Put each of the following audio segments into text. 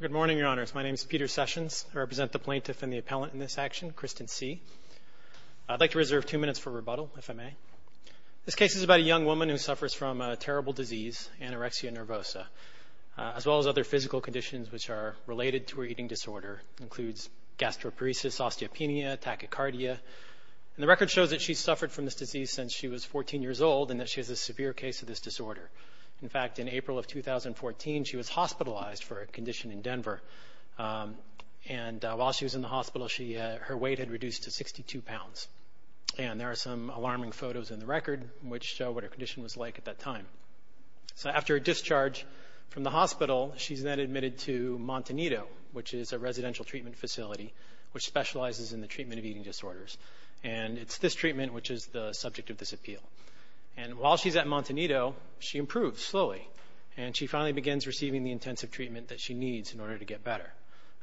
Good morning, Your Honors. My name is Peter Sessions. I represent the plaintiff and the appellant in this action, Kristen C. I'd like to reserve two minutes for rebuttal, if I may. This case is about a young woman who suffers from a terrible disease, anorexia nervosa, as well as other physical conditions which are related to her eating disorder, includes gastroparesis, osteopenia, tachycardia, and the record shows that she's suffered from this disease since she was 14 years old and that she has a severe case of this disorder. In fact, in April of 2014 she was hospitalized for a condition in Denver, and while she was in the hospital her weight had reduced to 62 pounds, and there are some alarming photos in the record which show what her condition was like at that time. So after a discharge from the hospital, she's then admitted to Montanito, which is a residential treatment facility which specializes in the treatment of eating disorders, and it's this treatment which is the subject of this appeal. And while she's at receiving the intensive treatment that she needs in order to get better,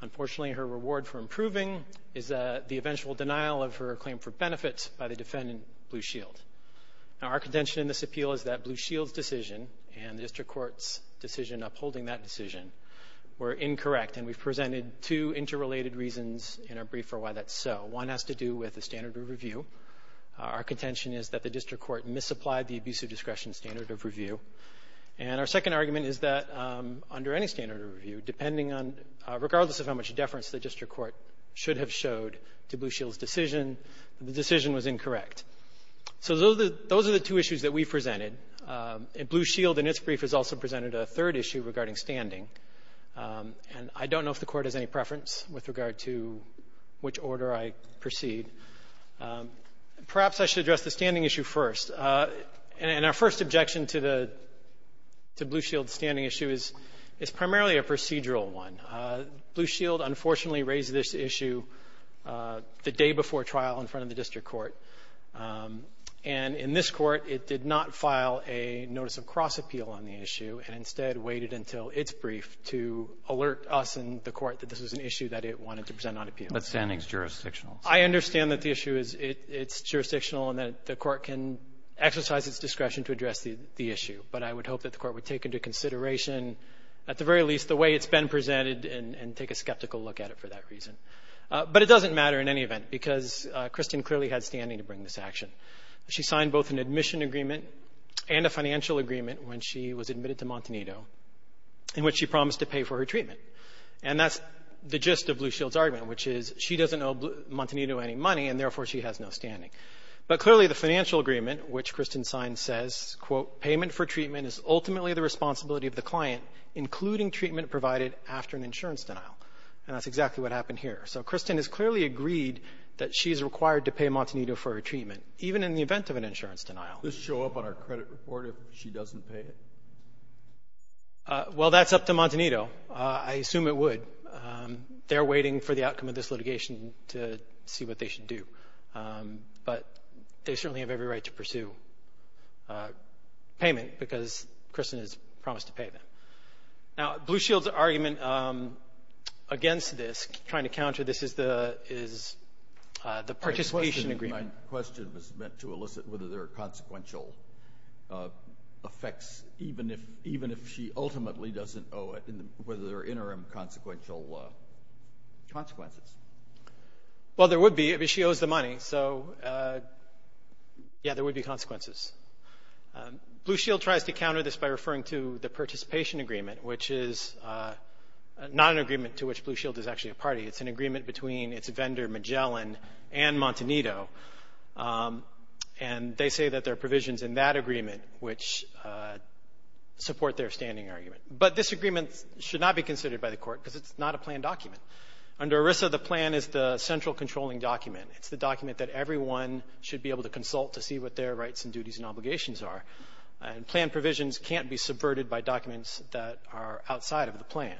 unfortunately her reward for improving is the eventual denial of her claim for benefits by the defendant, Blue Shield. Now our contention in this appeal is that Blue Shield's decision and the district court's decision upholding that decision were incorrect, and we've presented two interrelated reasons in our brief for why that's so. One has to do with the standard of review. Our contention is that the district court misapplied the abusive discretion standard of review. And our second argument is that under any standard of review, depending on, regardless of how much deference the district court should have showed to Blue Shield's decision, the decision was incorrect. So those are the two issues that we presented. Blue Shield in its brief has also presented a third issue regarding standing, and I don't know if the Court has any preference with regard to which order I proceed. Perhaps I should address the standing issue first. And our first objection to Blue Shield's standing issue is it's primarily a procedural one. Blue Shield, unfortunately, raised this issue the day before trial in front of the district court. And in this court, it did not file a notice of cross-appeal on the issue and instead waited until its brief to alert us and the Court that this was an issue that it wanted to present on appeal. But standing is jurisdictional. I understand that the issue is — it's jurisdictional and that the Court can exercise its discretion to address the issue. But I would hope that the Court would take into consideration, at the very least, the way it's been presented and take a skeptical look at it for that reason. But it doesn't matter in any event, because Kristin clearly had standing to bring this action. She signed both an admission agreement and a financial agreement when she was admitted to Montanito in which she promised to pay for her treatment. And that's the gist of Blue Shield's argument, which is she doesn't owe Montanito any money, and therefore she has no standing. But clearly, the financial agreement, which Kristin signed, says, quote, payment for treatment is ultimately the responsibility of the client, including treatment provided after an insurance denial. And that's exactly what happened here. So Kristin has clearly agreed that she's required to pay Montanito for her treatment, even in the event of an insurance denial. This show up on our credit report if she doesn't pay it? Well, that's up to Montanito. I assume it would. They're waiting for the outcome of this litigation to see what they should do. But they certainly have every right to pursue payment, because Kristin has promised to pay them. Now, Blue Shield's argument against this, trying to counter this, is the participation agreement. My question was meant to elicit whether there are consequential effects, even if she ultimately doesn't owe it, and whether there are interim consequential consequences. Well, there would be if she owes the money. So, yeah, there would be consequences. Blue Shield tries to counter this by referring to the participation agreement, which is not an agreement to which Blue Shield is actually a party. It's an agreement between its vendor, Magellan, and Montanito. And they say that there are provisions in that agreement which support their standing argument. But this agreement should not be considered by the court, because it's not a planned document. Under ERISA, the plan is the central controlling document. It's the document that everyone should be able to consult to see what their rights and duties and obligations are. And planned provisions can't be subverted by documents that are outside of the plan.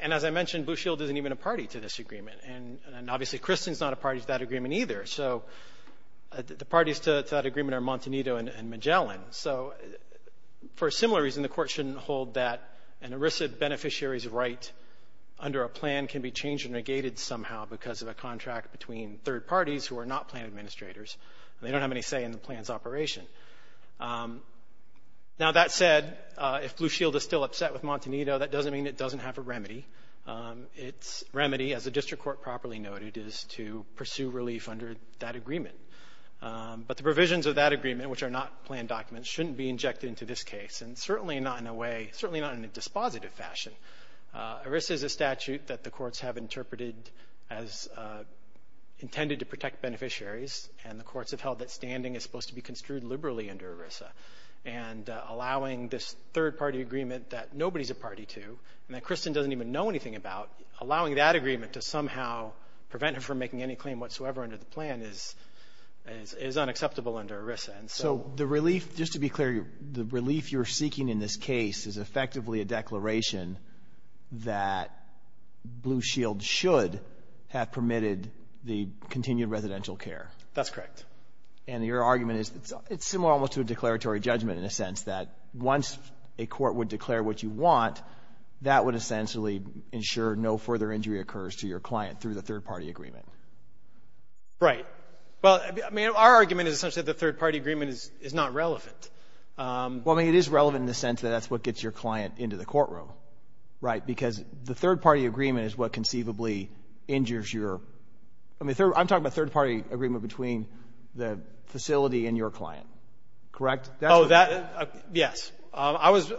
And as I mentioned, Blue Shield isn't even a party to this agreement. And obviously, Kristin's not a party to that agreement either. So the parties to that agreement are Montanito and Magellan. So for a similar reason, the court shouldn't hold that an ERISA beneficiary's right under a plan can be changed and negated somehow because of a contract between third parties who are not planned administrators. They don't have any say in the plan's operation. Now, that said, if Blue Shield is still upset with Montanito, that doesn't mean it doesn't have a remedy. Its remedy, as the district court properly noted, is to pursue relief under that agreement. But the provisions of that agreement, which are not planned documents, shouldn't be injected into this case. And certainly not in a way, certainly not in a dispositive fashion. ERISA is a statute that the courts have interpreted as intended to protect beneficiaries. And the courts have held that standing is supposed to be construed liberally under ERISA. And allowing this third-party agreement that nobody's a party to, and that Kristin doesn't even know anything about, allowing that agreement to somehow prevent her from making any claim whatsoever under the plan is unacceptable under ERISA. So the relief, just to be clear, the relief you're seeking in this case is effectively a declaration that Blue Shield should have permitted the continued residential care. That's correct. And your argument is, it's similar to a declaratory judgment in a sense, that once a court would declare what you want, that would essentially ensure no further injury occurs to your client through the third-party agreement. Right. Well, I mean, our argument is essentially that the third-party agreement is not relevant. Well, I mean, it is relevant in the sense that that's what gets your client into the courtroom, right? Because the third-party agreement is what conceivably injures your, I mean, I'm talking about third-party agreement between the facility and your client, correct? Oh, that, yes. I was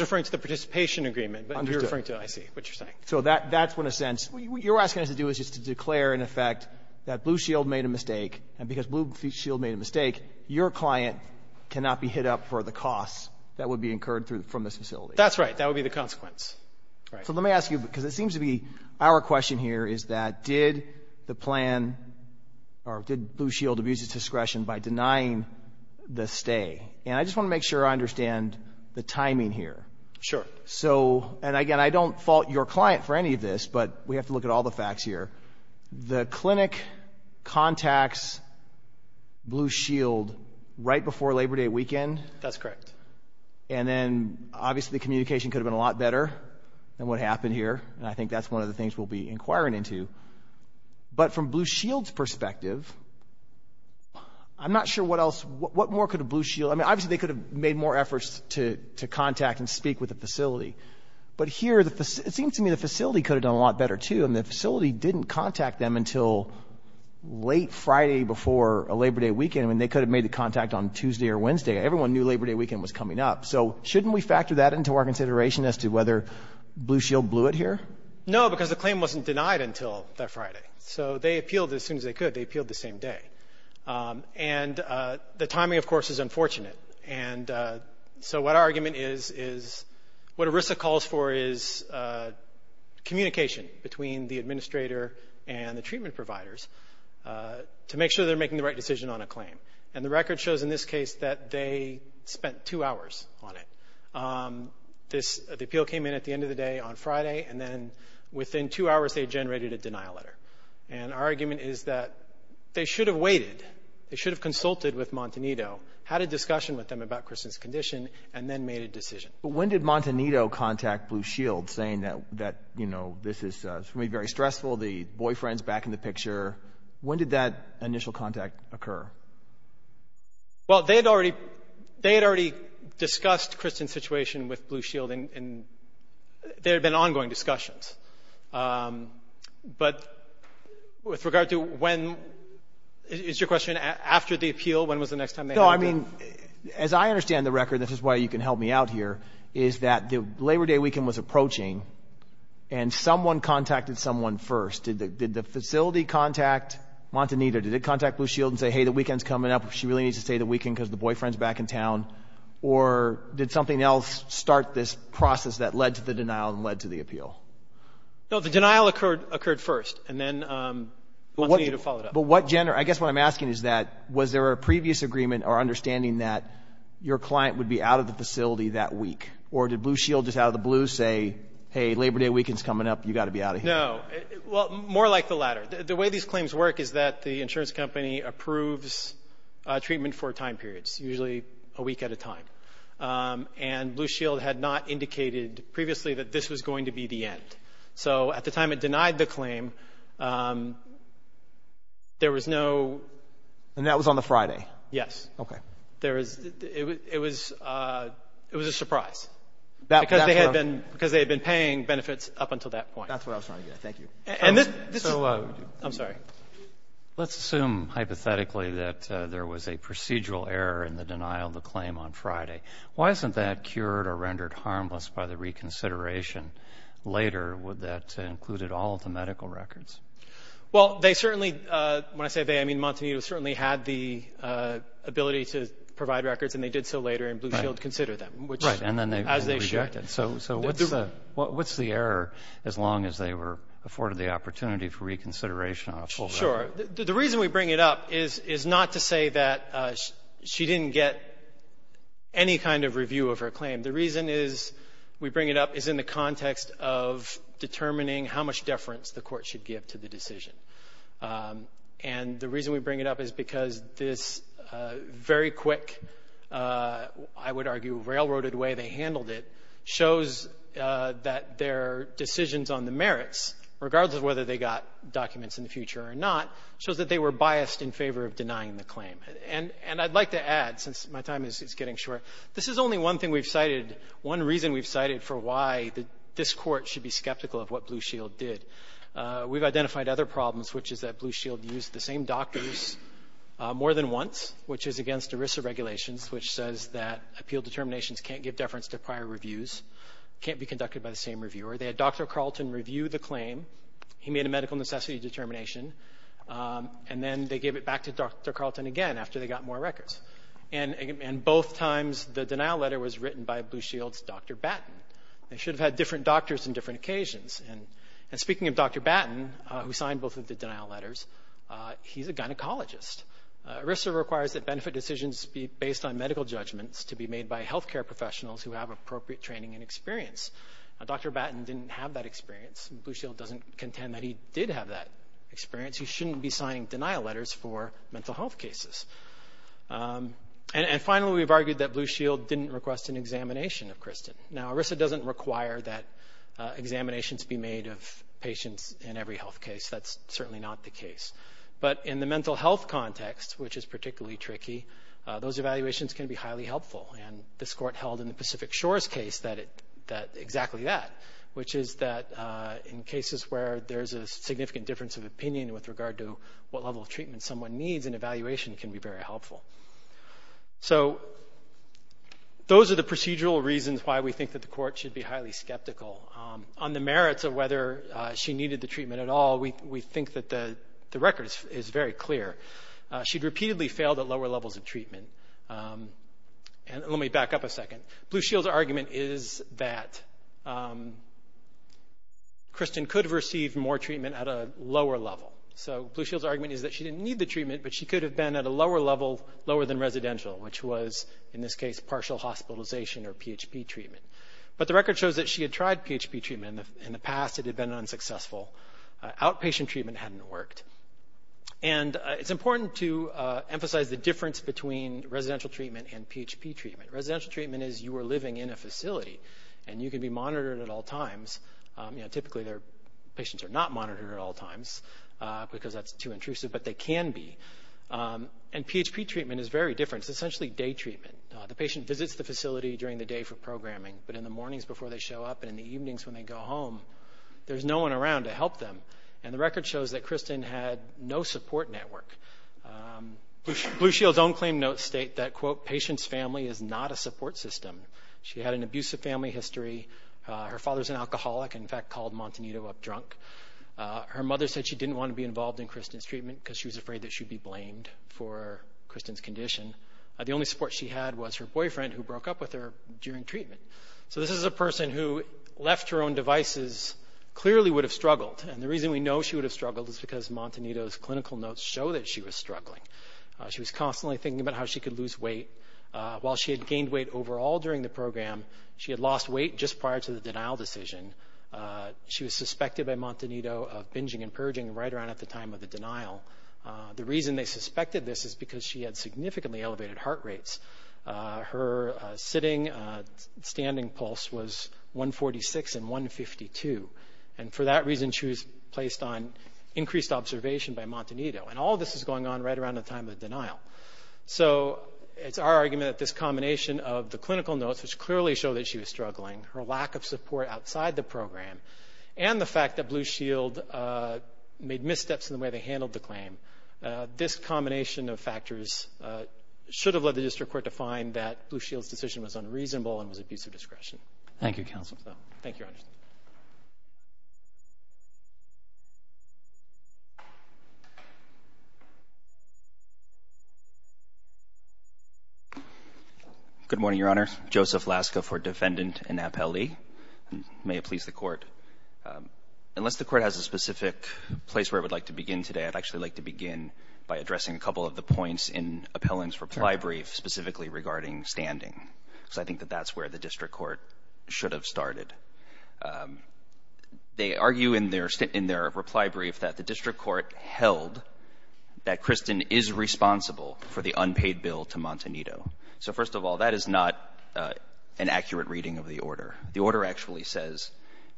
referring to the participation agreement, but you're referring to, I see what you're saying. So that's what, in a sense, what you're asking us to do is just to declare, in effect, that Blue Shield made a mistake. And because Blue Shield made a mistake, your client cannot be hit up for the costs that would be incurred from this facility. That's right. That would be the consequence. So let me ask you, because it seems to be our question here is that, did the plan, or did Blue Shield abuse its discretion by denying the stay? And I just want to make sure I understand the timing here. Sure. So, and again, I don't fault your client for any of this, but we have to look at all the facts here. The clinic contacts Blue Shield right before Labor Day weekend? That's correct. And then, obviously, the communication could have been a lot better than what happened here, and I think that's one of the things we'll be inquiring into. But from Blue Shield's perspective, I'm not sure what else, what more could Blue Shield, I mean, obviously, they could have made more efforts to contact and But here, it seems to me the facility could have done a lot better, too, and the facility didn't contact them until late Friday before a Labor Day weekend. I mean, they could have made the contact on Tuesday or Wednesday. Everyone knew Labor Day weekend was coming up. So shouldn't we factor that into our consideration as to whether Blue Shield blew it here? No, because the claim wasn't denied until that Friday. So they appealed as soon as they could. They appealed the same day. And the timing, of course, is unfortunate. And so what our argument is, is what ERISA calls for is communication between the administrator and the treatment providers to make sure they're making the right decision on a claim. And the record shows in this case that they spent two hours on it. The appeal came in at the end of the day on Friday, and then within two hours, they generated a denial letter. And our argument is that they should have waited. They should have consulted with Montanito. Had a discussion with them about Kristen's condition, and then made a decision. But when did Montanito contact Blue Shield, saying that, you know, this is going to be very stressful, the boyfriend's back in the picture? When did that initial contact occur? Well, they had already discussed Kristen's situation with Blue Shield, and there had been ongoing discussions. But with regard to when... Is your question after the appeal? When was the next time they had a... No, I mean, as I understand the record, and this is why you can help me out here, is that the Labor Day weekend was approaching, and someone contacted someone first. Did the facility contact Montanito? Did it contact Blue Shield and say, hey, the weekend's coming up, she really needs to stay the weekend because the boyfriend's back in town? Or did something else start this process that led to the denial and led to the appeal? No, the denial occurred first, and then Montanito followed up. But what, Jen, or I guess what I'm asking is that, was there a previous agreement or understanding that your client would be out of the facility that week? Or did Blue Shield just out of the blue say, hey, Labor Day weekend's coming up, you got to be out of here? No. Well, more like the latter. The way these claims work is that the insurance company approves treatment for time periods, usually a week at a time. And Blue Shield had not indicated previously that this was going to be the end. So at the time it denied the claim, there was no. And that was on the Friday? Yes. Okay. There was, it was a surprise. Because they had been paying benefits up until that point. That's what I was trying to get at. Thank you. And this is, I'm sorry. Let's assume, hypothetically, that there was a procedural error in the denial of the claim on Friday. Why isn't that cured or rendered harmless by the reconsideration later? Would that have included all of the medical records? Well, they certainly, when I say they, I mean Montanito certainly had the ability to provide records, and they did so later. And Blue Shield considered them. Right. And then they rejected. So what's the error, as long as they were afforded the opportunity for reconsideration on a full record? The reason we bring it up is not to say that she didn't get any kind of review of her claim. The reason is, we bring it up, is in the context of determining how much deference the court should give to the decision. And the reason we bring it up is because this very quick, I would argue, railroaded way they handled it shows that their decisions on the merits, regardless of whether they got documents in the future or not, shows that they were biased in favor of denying the claim. And I'd like to add, since my time is getting short, this is only one thing we've cited, one reason we've cited for why this court should be skeptical of what Blue Shield did. We've identified other problems, which is that Blue Shield used the same doctors more than once, which is against ERISA regulations, which says that appeal determinations can't give deference to prior reviews, can't be conducted by the same reviewer. They had Dr. Carlton review the claim, he made a medical necessity determination, and then they gave it back to Dr. Carlton again after they got more records. And both times, the denial letter was written by Blue Shield's Dr. Batten. They should have had different doctors on different occasions. And speaking of Dr. Batten, who signed both of the denial letters, he's a gynecologist. ERISA requires that benefit decisions be based on medical judgments to be made by healthcare professionals who have appropriate training and experience. Dr. Batten didn't have that experience. Blue Shield doesn't contend that he did have that experience. He shouldn't be signing denial letters for mental health cases. And finally, we've argued that Blue Shield didn't request an examination of Kristen. Now, ERISA doesn't require that examinations be made of patients in every health case. That's certainly not the case. But in the mental health context, which is particularly tricky, those evaluations can be highly helpful. And this court held in the Pacific Shores case that exactly that, which is that in cases where there's a significant difference of opinion with regard to what level of treatment someone needs, an evaluation can be very helpful. So those are the procedural reasons why we think that the court should be highly skeptical. On the merits of whether she needed the treatment at all, we think that the record is very clear. She'd repeatedly failed at lower levels of treatment. And let me back up a second. Blue Shield's argument is that Kristen could have received more treatment at a lower level. So Blue Shield's argument is that she didn't need the treatment, but she could have been at a lower level, lower than residential, which was, in this case, partial hospitalization or PHP treatment. But the record shows that she had tried PHP treatment. In the past, it had been unsuccessful. Outpatient treatment hadn't worked. And it's important to emphasize the difference between residential treatment and PHP treatment. Residential treatment is you are living in a facility, and you can be monitored at all times. Typically, patients are not monitored at all times because that's too intrusive, but they can be. And PHP treatment is very different. It's essentially day treatment. The patient visits the facility during the day for programming, but in the mornings before they show up and in the evenings when they go home, there's no one around to help them. And the record shows that Kristen had no support network. Blue Shield's own claim notes state that, quote, patient's family is not a support system. She had an abusive family history. Her father's an alcoholic, in fact, called Montanito up drunk. Her mother said she didn't want to be involved in Kristen's treatment because she was afraid that she'd be blamed for Kristen's condition. The only support she had was her boyfriend, who broke up with her during treatment. So this is a person who left her own devices, clearly would have struggled. And the reason we know she would have struggled is because Montanito's clinical notes show that she was struggling. She was constantly thinking about how she could lose weight. While she had gained weight overall during the program, she had lost weight just prior to the denial decision. She was suspected by Montanito of binging and purging right around at the time of the denial. The reason they suspected this is because she had significantly elevated heart rates. Her sitting standing pulse was 146 and 152. And for that reason, she was placed on increased observation by Montanito. And all this is going on right around the time of the denial. So it's our argument that this combination of the clinical notes, which clearly show that she was struggling, her lack of support outside the program, and the fact that Blue Shield made missteps in the way they handled the claim. This combination of factors should have led the district court to find that Blue Shield's decision was unreasonable and was abuse of discretion. Thank you, counsel. Thank you, Your Honor. Good morning, Your Honor. Joseph Laska for defendant and appellee. May it please the court. Unless the court has a specific place where it would like to begin today, I'd actually like to begin by addressing a couple of the points in appellant's reply brief specifically regarding standing. So I think that that's where the district court should have started. They argue in their reply brief that the district court held that Kristen is responsible for the unpaid bill to Montanito. So first of all, that is not an accurate reading of the order. The order actually says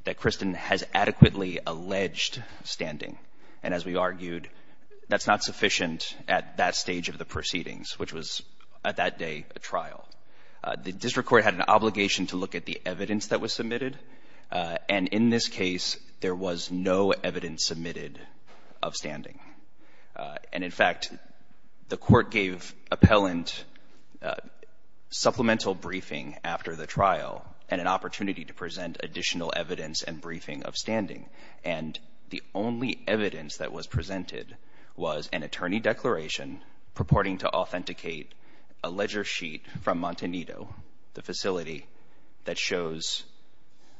that Kristen has adequately alleged standing. And as we argued, that's not sufficient at that stage of the proceedings, which was, at that day, a trial. The district court had an obligation to look at the evidence that was submitted. And in this case, there was no evidence submitted of standing. And in fact, the court gave appellant supplemental briefing after the trial, and an opportunity to present additional evidence and briefing of standing. And the only evidence that was presented was an attorney declaration purporting to authenticate a ledger sheet from Montanito, the facility that shows.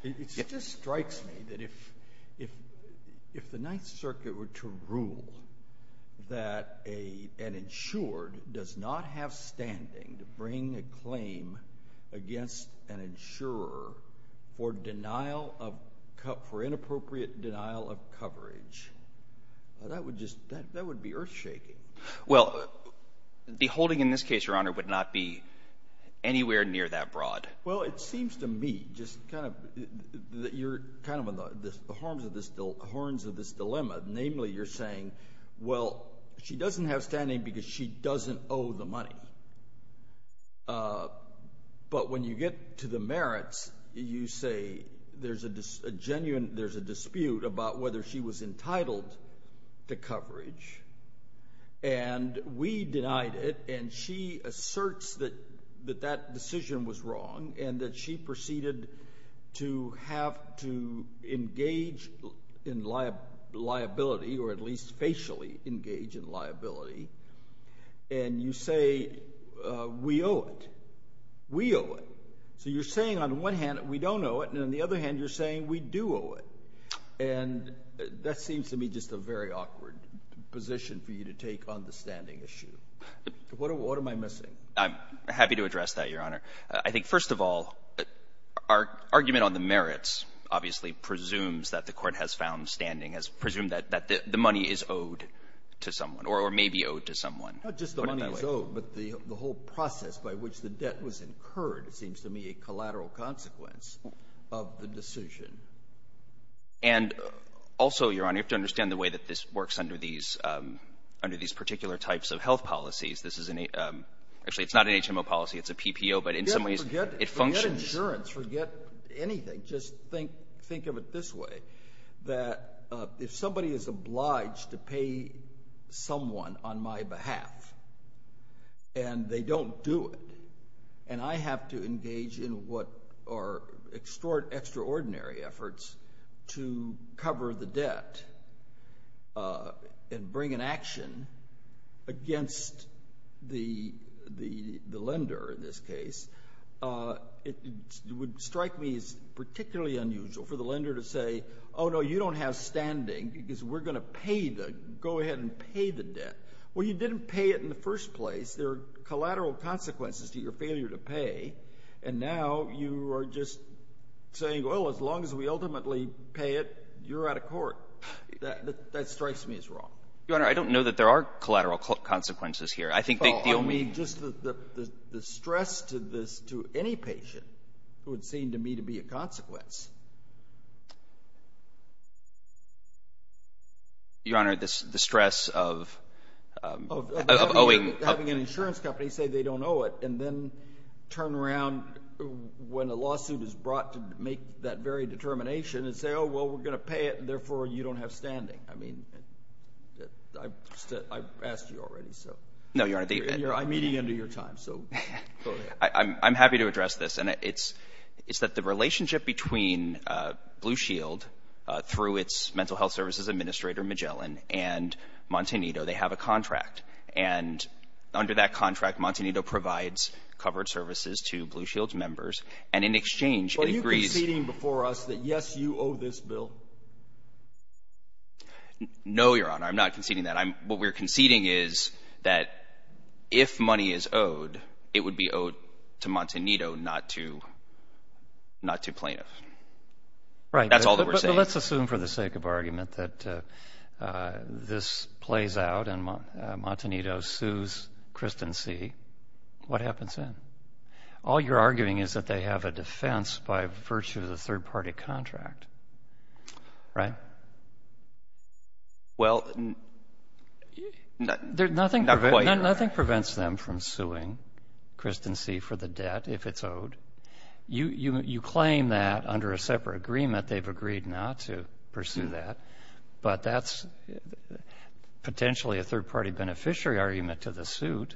It just strikes me that if the Ninth Circuit were to rule that an insured does not have standing to bring a claim against an insurer for denial of, for inappropriate denial of coverage, that would just, that would be earth shaking. Well, the holding in this case, Your Honor, would not be anywhere near that broad. Well, it seems to me, just kind of, that you're kind of on the horns of this dilemma. Namely, you're saying, well, she doesn't have standing because she doesn't owe the money. But when you get to the merits, you say there's a genuine, there's a dispute about whether she was entitled to coverage. And we denied it, and she asserts that that decision was wrong, and that she proceeded to have to engage in liability, or at least facially engage in liability. And you say, we owe it. We owe it. So you're saying on one hand, we don't owe it, and on the other hand, you're saying we do owe it. And that seems to me just a very awkward position for you to take on the standing issue. What am I missing? I'm happy to address that, Your Honor. I think, first of all, our argument on the merits obviously presumes that the court has found standing, has presumed that the money is owed to someone, or maybe owed to someone. Not just the money is owed, but the whole process by which the debt was incurred seems to me a collateral consequence of the decision. And also, Your Honor, you have to understand the way that this works under these particular types of health policies. This is, actually, it's not an HMO policy. It's a PPO, but in some ways, it functions. Forget insurance. Forget anything. Just think of it this way. That if somebody is obliged to pay someone on my behalf, and they don't do it, and I have to engage in what are extraordinary efforts to cover the debt and bring an action against the lender in this case, it would strike me as particularly unusual for the lender to say, oh, no, you don't have standing because we're going to pay the, go ahead and pay the debt. Well, you didn't pay it in the first place. There are collateral consequences to your failure to pay, and now you are just saying, well, as long as we ultimately pay it, you're out of court. That strikes me as wrong. Your Honor, I don't know that there are collateral consequences here. I think the only Oh, I mean, just the stress to this, to any patient, would seem to me to be a consequence. Your Honor, the stress of of owing having an insurance company say they don't owe it, and then turn around when a lawsuit is brought to make that very determination and say, oh, well, we're going to pay it, and therefore you don't have standing. I mean, I've asked you already, so. No, Your Honor, I'm meeting end of your time, so go ahead. I'm happy to address this, and it's that the relationship between Blue Shield through its mental health services administrator, Magellan, and Montanito, they have a contract, and under that contract, Montanito provides covered services to Blue Shield's members, and in exchange, Are you conceding before us that, yes, you owe this bill? No, Your Honor, I'm not conceding that. What we're conceding is that if money is owed, it would be owed to Montanito, not to plaintiff. Right. That's all that we're saying. So let's assume for the sake of argument that this plays out, and Montanito sues Christen C., what happens then? All you're arguing is that they have a defense by virtue of the third-party contract, right? Well, not quite, Your Honor. Nothing prevents them from suing Christen C. for the debt if it's owed. You claim that under a separate agreement they've agreed not to pursue that, but that's potentially a third-party beneficiary argument to the suit.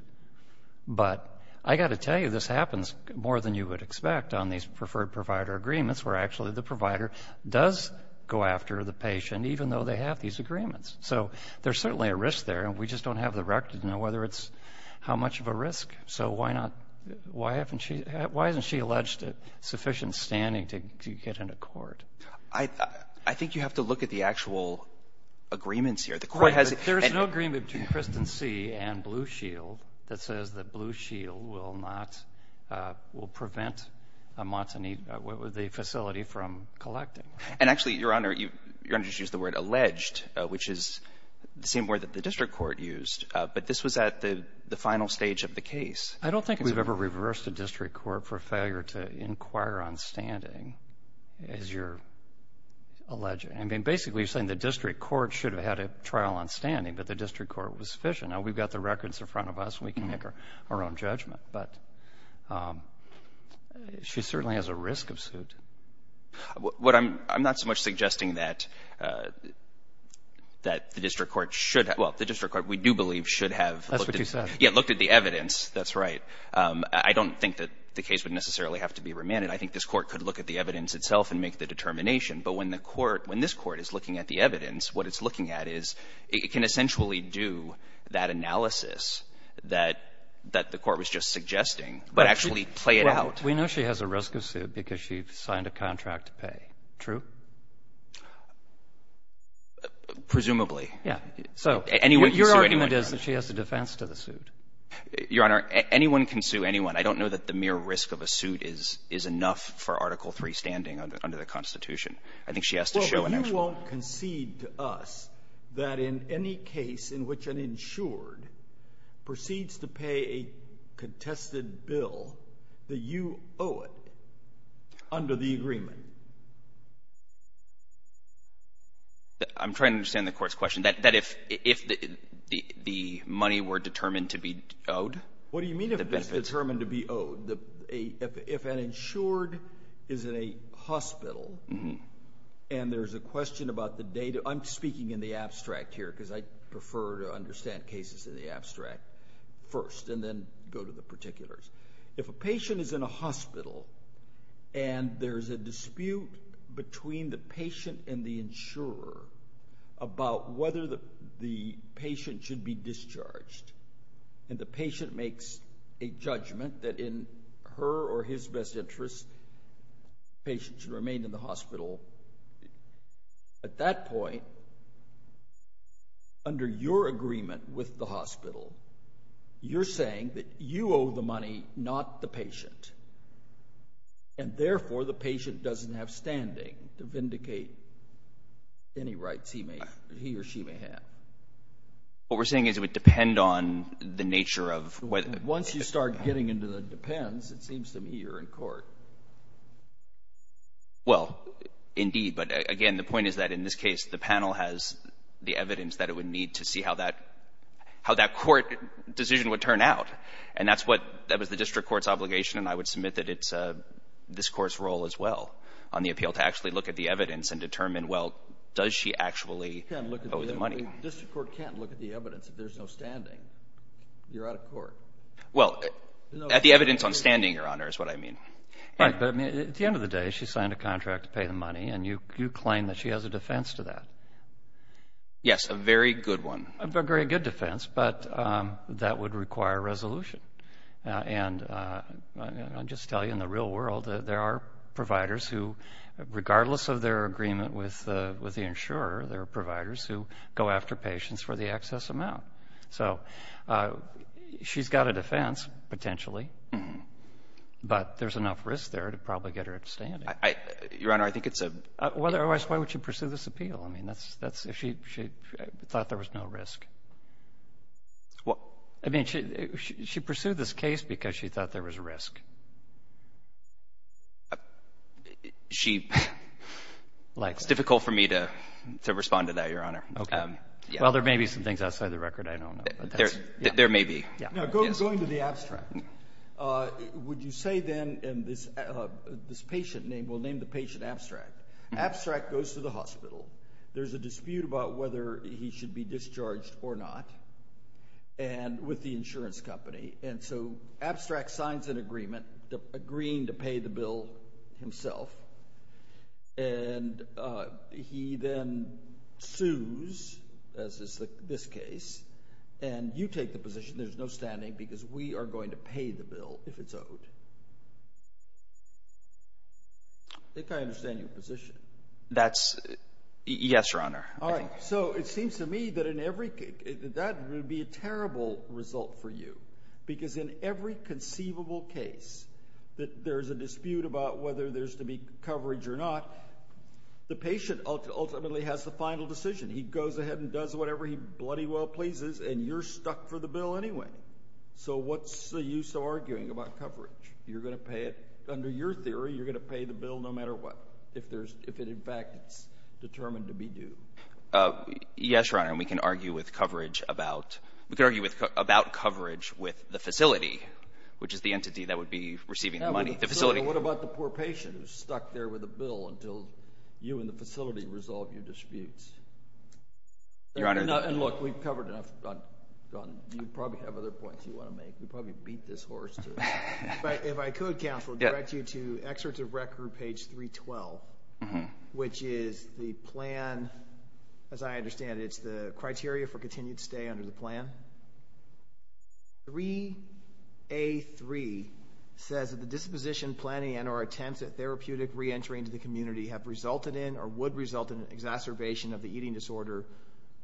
But I got to tell you, this happens more than you would expect on these preferred provider agreements where actually the provider does go after the patient even though they have these agreements. So there's certainly a risk there, and we just don't have the record to know whether it's how much of a risk. So why not — why haven't she — why isn't she alleged to sufficient standing to get into court? I think you have to look at the actual agreements here. The Court has — There's no agreement between Christen C. and Blue Shield that says that Blue Shield will not — will prevent Montanito — the facility from collecting. And actually, Your Honor, you just used the word alleged, which is the same word that the district court used. But this was at the final stage of the case. I don't think we've ever reversed a district court for failure to inquire on standing, as you're alleging. I mean, basically, you're saying the district court should have had a trial on standing, but the district court was sufficient. Now, we've got the records in front of us. We can make our own judgment. But she certainly has a risk of suit. What I'm — I'm not so much suggesting that — that the district court should — well, the district court, we do believe, should have looked at the evidence. That's right. I don't think that the case would necessarily have to be remanded. I think this court could look at the evidence itself and make the determination. But when the court — when this court is looking at the evidence, what it's looking at is it can essentially do that analysis that — that the court was just suggesting, but actually play it out. We know she has a risk of suit because she signed a contract to pay. True? Presumably. Yeah. So, your argument is that she has a defense to the suit. Your Honor, anyone can sue anyone. I don't know that the mere risk of a suit is — is enough for Article III standing under the Constitution. I think she has to show an actual — Well, you won't concede to us that in any case in which an insured proceeds to pay a contested bill, that you owe it under the agreement. I'm trying to understand the Court's question. That if — if the money were determined to be owed? What do you mean if it's determined to be owed? If an insured is in a hospital and there's a question about the data — I'm speaking in the abstract here because I prefer to understand cases in the abstract first and then go to the particulars. If a patient is in a hospital and there's a dispute between the patient and the insurer about whether the patient should be discharged, and the patient makes a judgment that in her or his best interest, the patient should remain in the hospital, at that point, under your agreement with the hospital, you're saying that you owe the money, not the patient, and therefore, the patient doesn't have standing to vindicate any rights he may — he or she may have. What we're saying is it would depend on the nature of — Once you start getting into the depends, it seems to me you're in court. Well, indeed, but again, the point is that in this case, the panel has the evidence that it would need to see how that — how that court decision would turn out, and that's what — that was the district court's obligation, and I would submit that it's this Court's role as well on the appeal to actually look at the evidence and determine, well, does she actually owe the money? The district court can't look at the evidence if there's no standing. You're out of court. Well, at the evidence on standing, Your Honor, is what I mean. Right, but I mean, at the end of the day, she signed a contract to pay the money, and you claim that she has a defense to that. Yes, a very good one. A very good defense, but that would require resolution, and I'll just tell you, in the real world, there are providers who, regardless of their agreement with the insurer, there are providers who go after patients for the excess amount, so she's got a defense, potentially, but there's enough risk there to probably get her at standing. Your Honor, I think it's a — Otherwise, why would she pursue this appeal? I mean, that's — she thought there was no risk. Well — I mean, she pursued this case because she thought there was risk. She — Likely. It's difficult for me to respond to that, Your Honor. Well, there may be some things outside the record I don't know, but that's — There may be. Now, going to the abstract, would you say, then, and this patient name — we'll name the patient Abstract. Abstract goes to the hospital. There's a dispute about whether he should be discharged or not with the insurance company, and so Abstract signs an agreement agreeing to pay the bill himself, and he then sues, as is this case, and you take the position. There's no standing because we are going to pay the bill if it's owed. I think I understand your position. That's — yes, Your Honor. All right. So it seems to me that in every — that would be a terrible result for you because in every conceivable case that there's a dispute about whether there's to be coverage or not, the patient ultimately has the final decision. He goes ahead and does whatever he bloody well pleases, and you're stuck for the bill anyway. So what's the use of arguing about coverage? You're going to pay it. Under your theory, you're going to pay the bill no matter what if there's — if, in fact, it's determined to be due. Yes, Your Honor, and we can argue with coverage about — we can argue about coverage with the facility, which is the entity that would be receiving the money. So what about the poor patient who's stuck there with the bill until you and the facility resolve your disputes? Your Honor — And look, we've covered enough. You probably have other points you want to make. We probably beat this horse to it. But if I could, Counselor, direct you to excerpts of record page 312, which is the plan. As I understand it, it's the criteria for continued stay under the plan. 3A.3 says that the disposition, planning, and or attempts at therapeutic re-entering to the community have resulted in or would result in an exacerbation of the eating disorder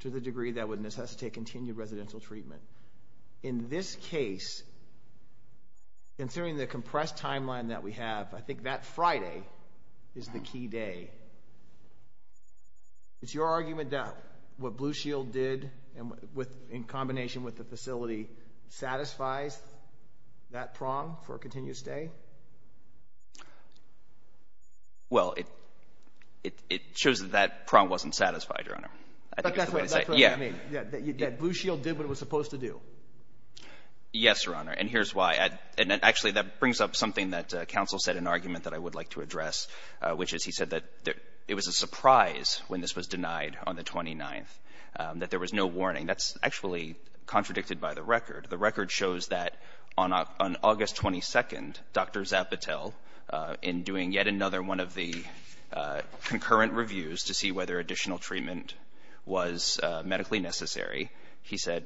to the degree that would necessitate continued residential treatment. In this case, considering the compressed timeline that we have, I think that Friday is the key day. Is your argument that what Blue Shield did in combination with the facility satisfies that prong for a continued stay? Well, it shows that that prong wasn't satisfied, Your Honor. That's what I mean. That Blue Shield did what it was supposed to do. Yes, Your Honor, and here's why. Actually, that brings up something that Counsel said in an argument that I would like to address, which is he said that it was a surprise when this was denied on the 29th, that there was no warning. That's actually contradicted by the record. The record shows that on August 22nd, Dr. Zapotel, in doing yet another one of the concurrent reviews to see whether additional treatment was medically necessary, he said,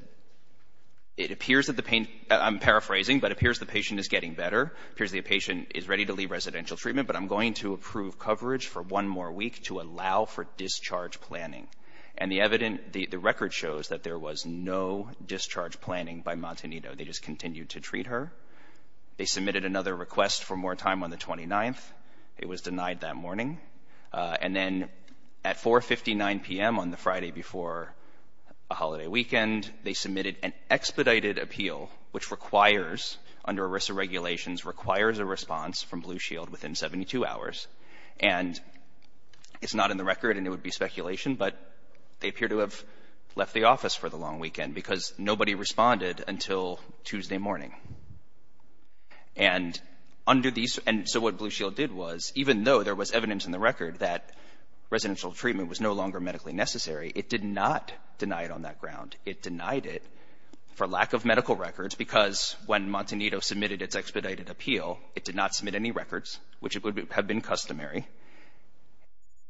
I'm paraphrasing, but it appears the patient is getting better. It appears the patient is ready to leave residential treatment, but I'm going to approve coverage for one more week to allow for discharge planning. And the record shows that there was no discharge planning by Montanito. They just continued to treat her. They submitted another request for more time on the 29th. It was denied that morning. And then at 4.59 p.m. on the Friday before a holiday weekend, they submitted an expedited appeal, which requires, under ERISA regulations, requires a response from Blue Shield within 72 hours. And it's not in the record, and it would be speculation, but they appear to have left the office for the long weekend because nobody responded until Tuesday morning. And so what Blue Shield did was, even though there was evidence in the record that residential treatment was no longer medically necessary, it did not deny it on that ground. It denied it for lack of medical records because when Montanito submitted its expedited appeal, it did not submit any records, which would have been customary,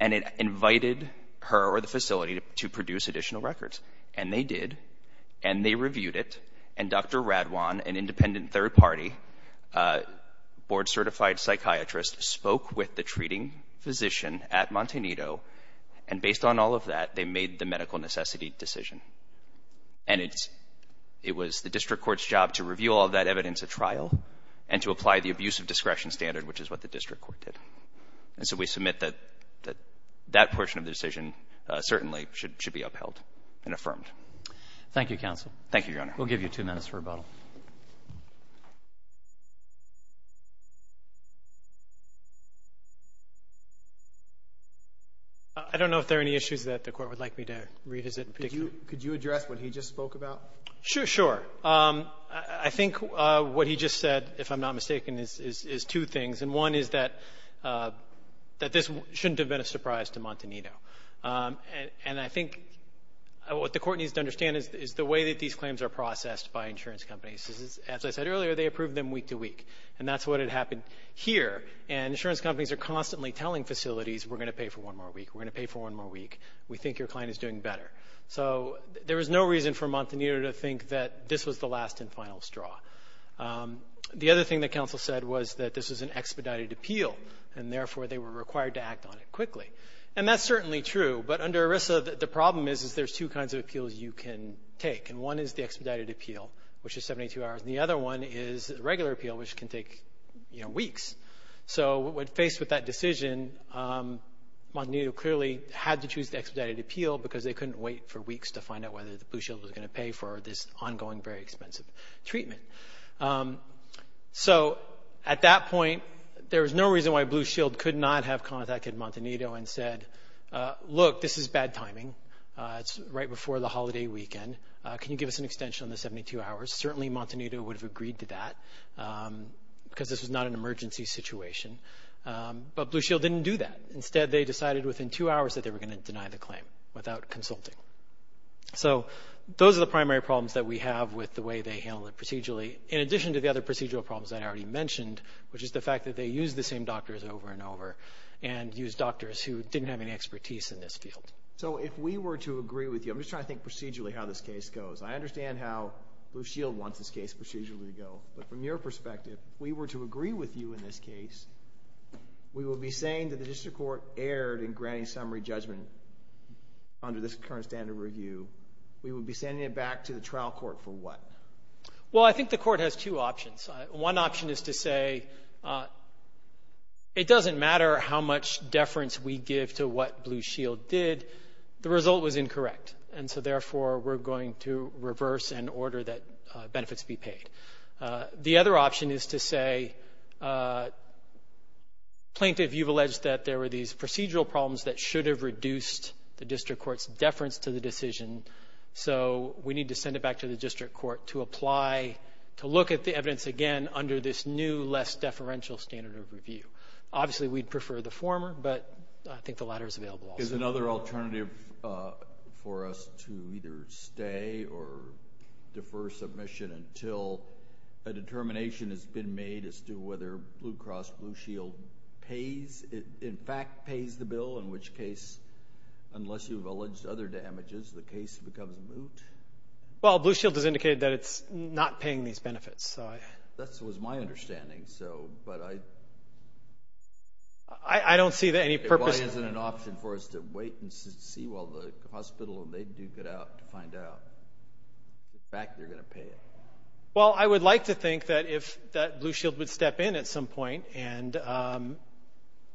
and it invited her or the facility to produce additional records. And they did, and they reviewed it, and Dr. Radwan, an independent third-party board-certified psychiatrist, spoke with the treating physician at Montanito, and based on all of that, they made the medical necessity decision. And it was the district court's job to review all that evidence at trial and to apply the abuse of discretion standard, which is what the district court did. And so we submit that that portion of the decision certainly should be upheld and affirmed. Thank you, counsel. Thank you, Your Honor. We'll give you two minutes for rebuttal. I don't know if there are any issues that the Court would like me to revisit in particular. Could you address what he just spoke about? Sure. I think what he just said, if I'm not mistaken, is two things. And one is that this shouldn't have been a surprise to Montanito. And I think what the Court needs to understand is the way that these claims are processed by insurance companies. As I said earlier, they approve them week to week, and that's what had happened here. And insurance companies are constantly telling facilities, we're going to pay for one more week, we're going to pay for one more week, we think your client is doing better. So there was no reason for Montanito to think that this was the last and final straw. The other thing that counsel said was that this was an expedited appeal, and therefore they were required to act on it quickly. And that's certainly true. But under ERISA, the problem is there's two kinds of appeals you can take. And one is the expedited appeal, which is 72 hours, and the other one is the regular appeal, which can take weeks. So when faced with that decision, Montanito clearly had to choose the expedited appeal because they couldn't wait for weeks to find out whether Blue Shield was going to pay for this ongoing, very expensive treatment. So at that point, there was no reason why Blue Shield could not have contacted Montanito and said, look, this is bad timing. It's right before the holiday weekend. Can you give us an extension on the 72 hours? Certainly Montanito would have agreed to that because this was not an emergency situation. But Blue Shield didn't do that. Instead, they decided within two hours that they were going to deny the claim without consulting. So those are the primary problems that we have with the way they handled it procedurally, in addition to the other procedural problems that I already mentioned, which is the fact that they used the same doctors over and over and used doctors who didn't have any expertise in this field. So if we were to agree with you, I'm just trying to think procedurally how this case goes. I understand how Blue Shield wants this case procedurally to go. But from your perspective, if we were to agree with you in this case, we would be saying that the district court erred in granting summary judgment under this current standard review. We would be sending it back to the trial court for what? Well, I think the court has two options. One option is to say it doesn't matter how much deference we give to what Blue Shield did. The result was incorrect. And so, therefore, we're going to reverse and order that benefits be paid. The other option is to say plaintiff, you've alleged that there were these procedural problems that should have reduced the district court's deference to the decision, so we need to send it back to the district court to apply to look at the evidence again under this new less deferential standard of review. Obviously, we'd prefer the former, but I think the latter is available also. Is there another alternative for us to either stay or defer submission until a determination has been made as to whether Blue Cross Blue Shield in fact pays the bill, in which case, unless you've alleged other damages, the case becomes moot? Well, Blue Shield has indicated that it's not paying these benefits. That was my understanding. I don't see any purpose. Why isn't it an option for us to wait and see while the hospital and they duke it out to find out the fact they're going to pay it? Well, I would like to think that Blue Shield would step in at some point and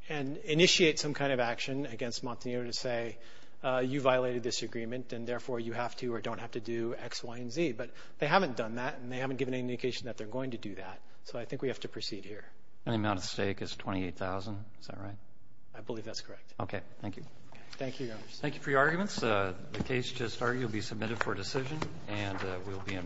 initiate some kind of action against Montaner to say you violated this agreement and, therefore, you have to or don't have to do X, Y, and Z. But they haven't done that, and they haven't given any indication that they're going to do that. So I think we have to proceed here. The amount at stake is $28,000. Is that right? I believe that's correct. Okay. Thank you. Thank you, Your Honor. Thank you for your arguments. The case just argued will be submitted for decision, and we'll be in recess.